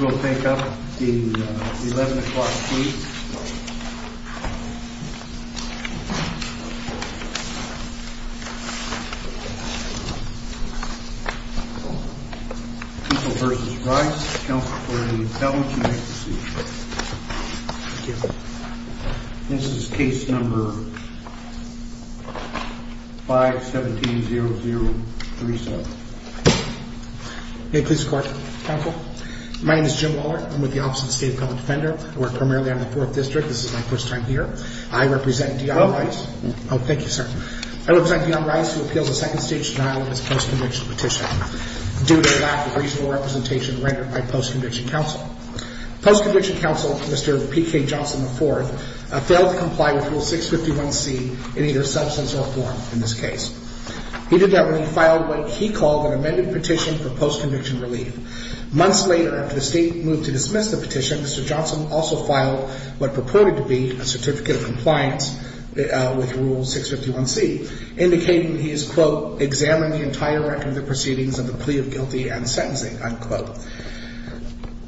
We'll take up the 11 o'clock please. Counsel v. Rice, counsel for the appellant, you may proceed. Thank you. This is case number 517-0037. May it please the court. Counsel? My name is Jim Wallert. I'm with the Office of the State of Public Defender. I work primarily on the 4th District. This is my first time here. I represent Dion Rice. Oh, thank you sir. I represent Dion Rice who appeals a second stage denial of his post-conviction petition. Due to lack of reasonable representation rendered by post-conviction counsel. Post-conviction counsel, Mr. P.K. Johnson IV, failed to comply with Rule 651C in either substance or form in this case. He did that when he filed what he called an amended petition for post-conviction relief. Months later, after the state moved to dismiss the petition, Mr. Johnson also filed what purported to be a certificate of compliance with Rule 651C. Indicating he has, quote, examined the entire record of the proceedings of the plea of guilty and sentencing, unquote.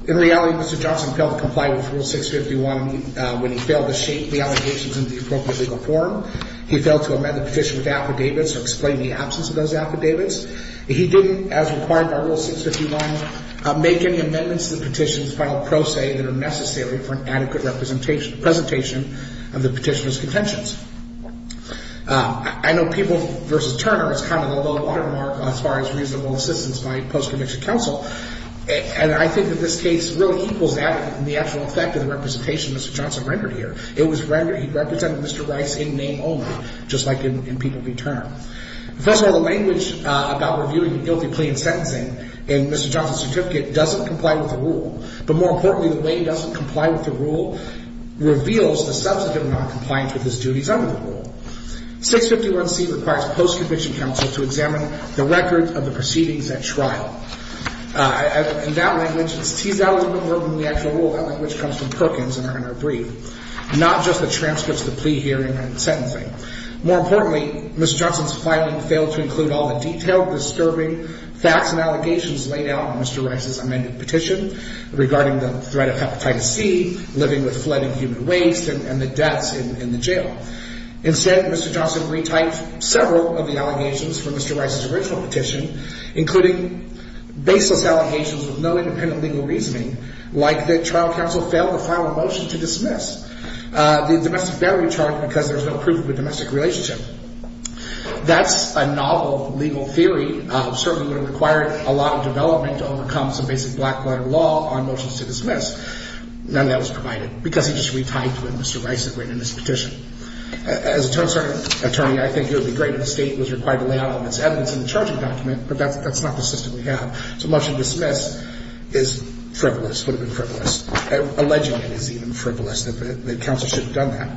In reality, Mr. Johnson failed to comply with Rule 651 when he failed to shape the allegations in the appropriate legal form. He failed to amend the petition with affidavits or explain the absence of those affidavits. He didn't, as required by Rule 651, make any amendments to the petition's final pro se that are necessary for an adequate presentation of the petitioner's contentions. I know people versus Turner is kind of the low watermark as far as reasonable assistance by post-conviction counsel. And I think in this case, Rule equals that in the actual effect of the representation Mr. Johnson rendered here. It was rendered, he represented Mr. Rice in name only, just like in people v. Turner. First of all, the language about reviewing a guilty plea and sentencing in Mr. Johnson's certificate doesn't comply with the Rule. But more importantly, the way it doesn't comply with the Rule reveals the substantive noncompliance with his duties under the Rule. 651C requires post-conviction counsel to examine the record of the proceedings at trial. In that language, it's teased out a little bit more than the actual Rule. That language comes from Perkins in our brief. Not just the transcripts of the plea hearing and sentencing. More importantly, Mr. Johnson's filing failed to include all the detailed, disturbing facts and allegations laid out in Mr. Rice's amended petition, regarding the threat of hepatitis C, living with flood and human waste, and the deaths in the jail. Instead, Mr. Johnson retyped several of the allegations from Mr. Rice's original petition, including baseless allegations with no independent legal reasoning, like the trial counsel failed to file a motion to dismiss the domestic battery charge because there was no proof of a domestic relationship. That's a novel legal theory. Certainly would have required a lot of development to overcome some basic black-letter law on motions to dismiss. None of that was provided, because he just retyped what Mr. Rice had written in his petition. As an attorney, I think it would be great if the state was required to lay out all of its evidence in the charging document, but that's not the system we have. So a motion to dismiss is frivolous, would have been frivolous. Alleging it is even frivolous, that counsel should have done that.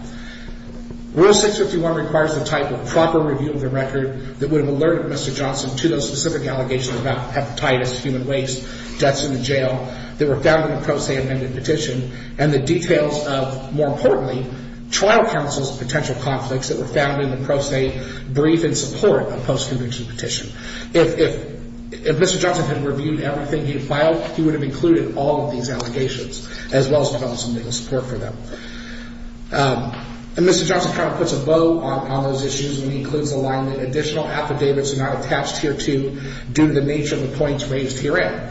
Rule 651 requires the type of proper review of the record that would have alerted Mr. Johnson to those specific allegations about hepatitis, human waste, deaths in the jail, that were found in the pro se amended petition, and the details of, more importantly, trial counsel's potential conflicts that were found in the pro se brief in support of post-conviction petition. If Mr. Johnson had reviewed everything he had filed, he would have included all of these allegations, as well as found some legal support for them. And Mr. Johnson kind of puts a bow on those issues when he includes the line that additional affidavits are not attached here to, due to the nature of the points raised herein.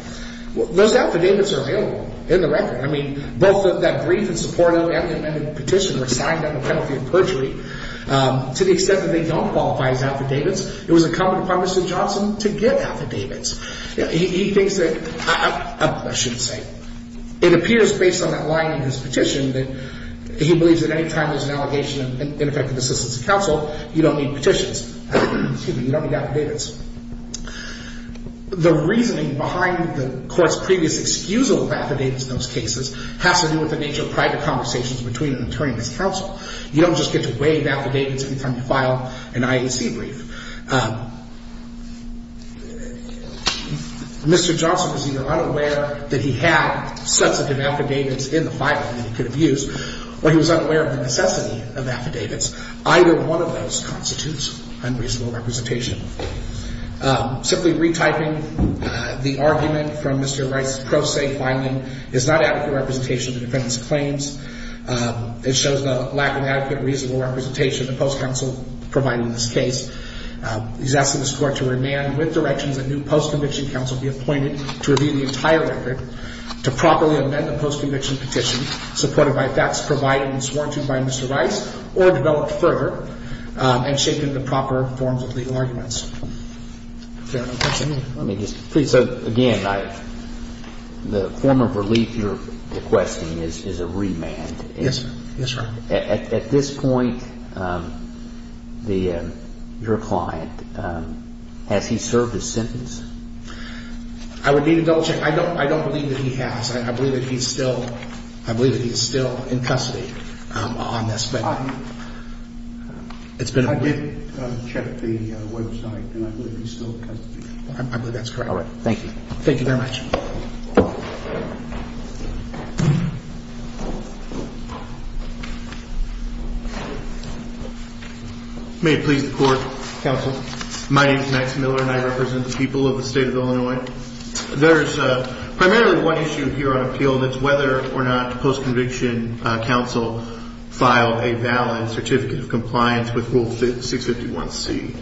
Those affidavits are available in the record. I mean, both that brief in support of the amended petition were signed under the penalty of perjury. To the extent that they don't qualify as affidavits, it was incumbent upon Mr. Johnson to get affidavits. He thinks that, I shouldn't say, it appears based on that line in his petition that he believes that any time there's an allegation of ineffective assistance to counsel, you don't need petitions, excuse me, you don't need affidavits. The reasoning behind the court's previous excusable affidavits in those cases has to do with the nature of private conversations between an attorney and his counsel. You don't just get to waive affidavits every time you file an IAC brief. Mr. Johnson was either unaware that he had substantive affidavits in the filing that he could have used, or he was unaware of the necessity of affidavits. Either one of those constitutes unreasonable representation. Simply retyping the argument from Mr. Rice's pro se filing is not adequate representation of the defendant's claims. It shows the lack of adequate reasonable representation of the post-counsel providing this case. He's asking this Court to remand with directions that new post-conviction counsel be appointed to review the entire record to properly amend the post-conviction petition supported by facts provided and sworn to by Mr. Rice or developed further and shaped into proper forms of legal arguments. If there are no questions. Again, the form of relief you're requesting is a remand. Yes, sir. At this point, your client, has he served his sentence? I would need to double check. I don't believe that he has. I believe that he's still in custody on this. I did check the website, and I believe he's still in custody. I believe that's correct. Thank you. Thank you very much. May it please the Court. Counsel. My name is Max Miller, and I represent the people of the state of Illinois. There's primarily one issue here on appeal, and that's whether or not post-conviction counsel filed a valid certificate of compliance with Rule 651C.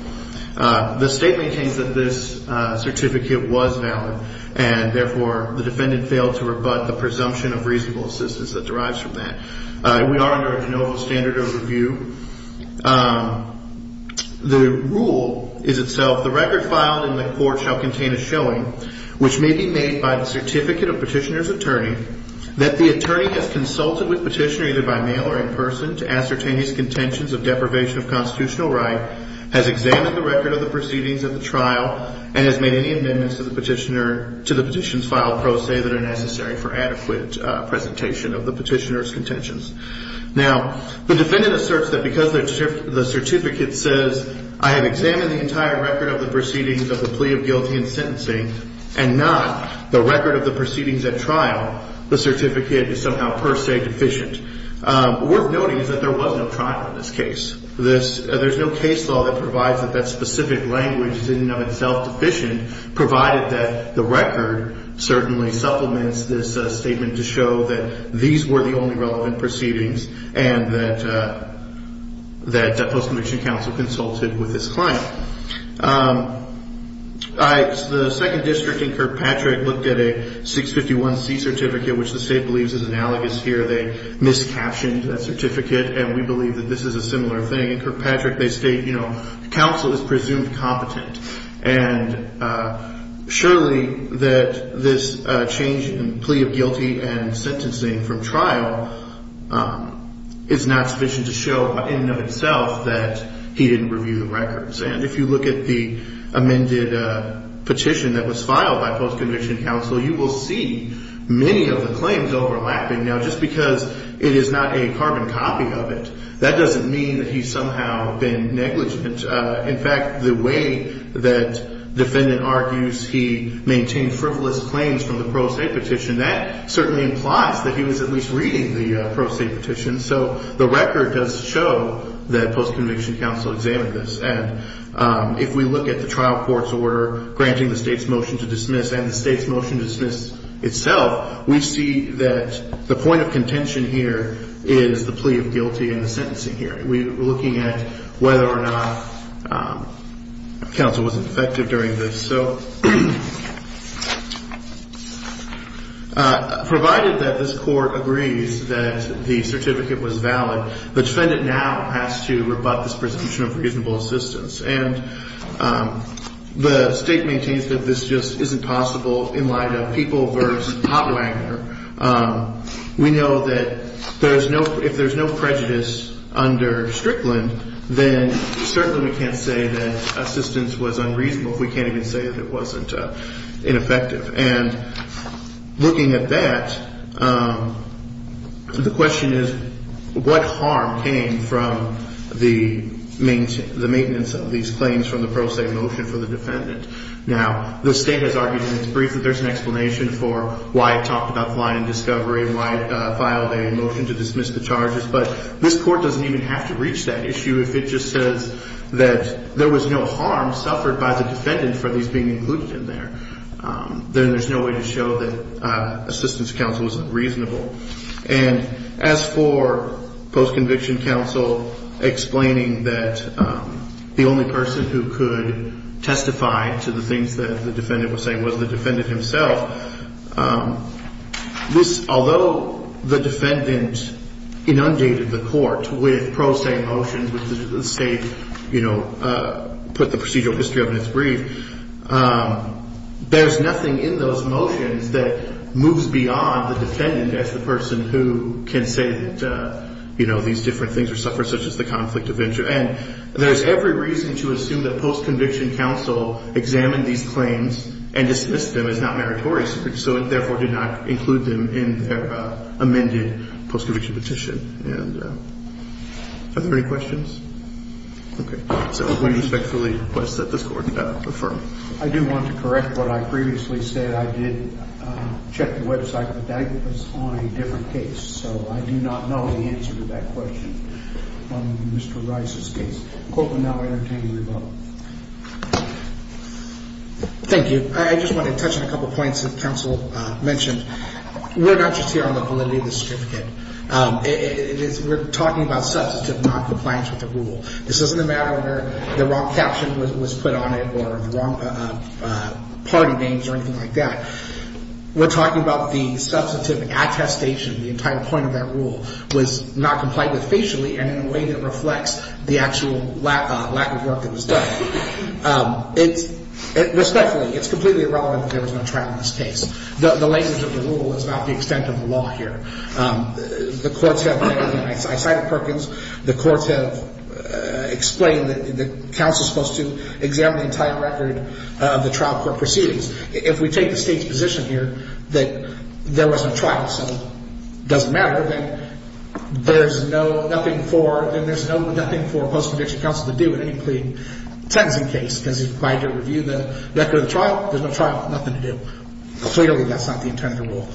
The state maintains that this certificate was valid, and therefore, the defendant failed to rebut the presumption of reasonable assistance that derives from that. We are under a de novo standard of review. The rule is itself, the record filed in the court shall contain a showing, which may be made by the certificate of petitioner's attorney, that the attorney has consulted with petitioner either by mail or in person to ascertain his contentions of deprivation of constitutional right, has examined the record of the proceedings of the trial, and has made any amendments to the petition filed pro se that are necessary for adequate presentation of the petitioner's contentions. Now, the defendant asserts that because the certificate says, I have examined the entire record of the proceedings of the plea of guilty in sentencing, and not the record of the proceedings at trial, the certificate is somehow per se deficient. Worth noting is that there was no trial in this case. There's no case law that provides that that specific language is in and of itself deficient, provided that the record certainly supplements this statement to show that these were the only relevant proceedings, and that the post-conviction counsel consulted with this client. The second district in Kirkpatrick looked at a 651C certificate, which the state believes is analogous here. They miscaptioned that certificate, and we believe that this is a similar thing. In Kirkpatrick, they state, you know, counsel is presumed competent. And surely that this change in plea of guilty and sentencing from trial is not sufficient to show in and of itself that he didn't review the records. And if you look at the amended petition that was filed by post-conviction counsel, you will see many of the claims overlapping. Now, just because it is not a carbon copy of it, that doesn't mean that he's somehow been negligent. In fact, the way that defendant argues he maintained frivolous claims from the pro se petition, that certainly implies that he was at least reading the pro se petition. So the record does show that post-conviction counsel examined this. And if we look at the trial court's order granting the state's motion to dismiss and the state's motion to dismiss itself, we see that the point of contention here is the plea of guilty and the sentencing hearing. We're looking at whether or not counsel was effective during this. So provided that this court agrees that the certificate was valid, the defendant now has to rebut this presumption of reasonable assistance. And the state maintains that this just isn't possible in light of People v. Hopwanger. We know that if there's no prejudice under Strickland, then certainly we can't say that assistance was unreasonable. We can't even say that it wasn't ineffective. And looking at that, the question is what harm came from the maintenance of these claims from the pro se motion for the defendant. Now, the state has argued in its brief that there's an explanation for why it talked about the line of discovery and why it filed a motion to dismiss the charges. But this court doesn't even have to reach that issue if it just says that there was no harm suffered by the defendant for these being included in there. Then there's no way to show that assistance counsel was unreasonable. And as for post-conviction counsel explaining that the only person who could testify to the things that the defendant was saying was the defendant himself, although the defendant inundated the court with pro se motions which the state put the procedural history of in its brief, there's nothing in those motions that moves beyond the defendant as the person who can say that these different things were suffered, such as the conflict of interest. And there's every reason to assume that post-conviction counsel examined these claims and dismissed them as not meritorious, so it therefore did not include them in their amended post-conviction petition. Are there any questions? Okay. So we respectfully request that this court defer. I do want to correct what I previously said. I did check the website, but that was on a different case, so I do not know the answer to that question on Mr. Rice's case. The court will now entertain a rebuttal. Thank you. I just want to touch on a couple of points that counsel mentioned. We're not just here on the validity of the certificate. We're talking about substantive noncompliance with the rule. This isn't a matter where the wrong caption was put on it or the wrong party names or anything like that. We're talking about the substantive attestation. The entire point of that rule was not complied with facially and in a way that reflects the actual lack of work that was done. Respectfully, it's completely irrelevant that there was no trial in this case. The language of the rule is not the extent of the law here. I cited Perkins. The courts have explained that counsel is supposed to examine the entire record of the trial court proceedings. If we take the state's position here that there was no trial, so it doesn't matter, then there's nothing for post-prediction counsel to do in any plea tensing case because he's required to review the record of the trial. There's no trial. Nothing to do. Clearly, that's not the intent of the rule.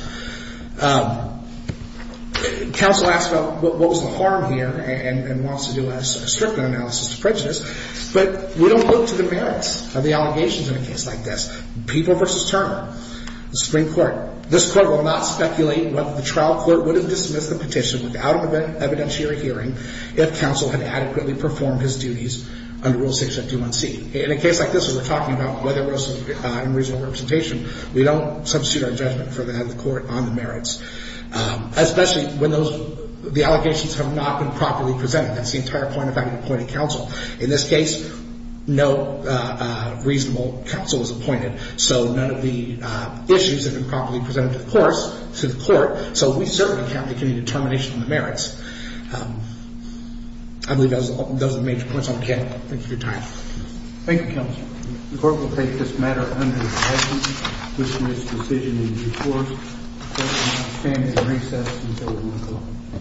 Counsel asks about what was the harm here and wants to do a stripment analysis to prejudice, but we don't look to the merits of the allegations in a case like this. People v. Turner, the Supreme Court. This court will not speculate whether the trial clerk would have dismissed the petition without an evidentiary hearing if counsel had adequately performed his duties under Rule 6.2.1c. In a case like this where we're talking about whether there was some unreasonable representation, we don't substitute our judgment for that of the court on the merits, especially when the allegations have not been properly presented. That's the entire point of having appointed counsel. In this case, no reasonable counsel was appointed, so none of the issues have been properly presented to the court, I believe those are the major points. Thank you for your time. Thank you, counsel. The court will take this matter under the president's decision in due course. The court will not stand at recess until we move on.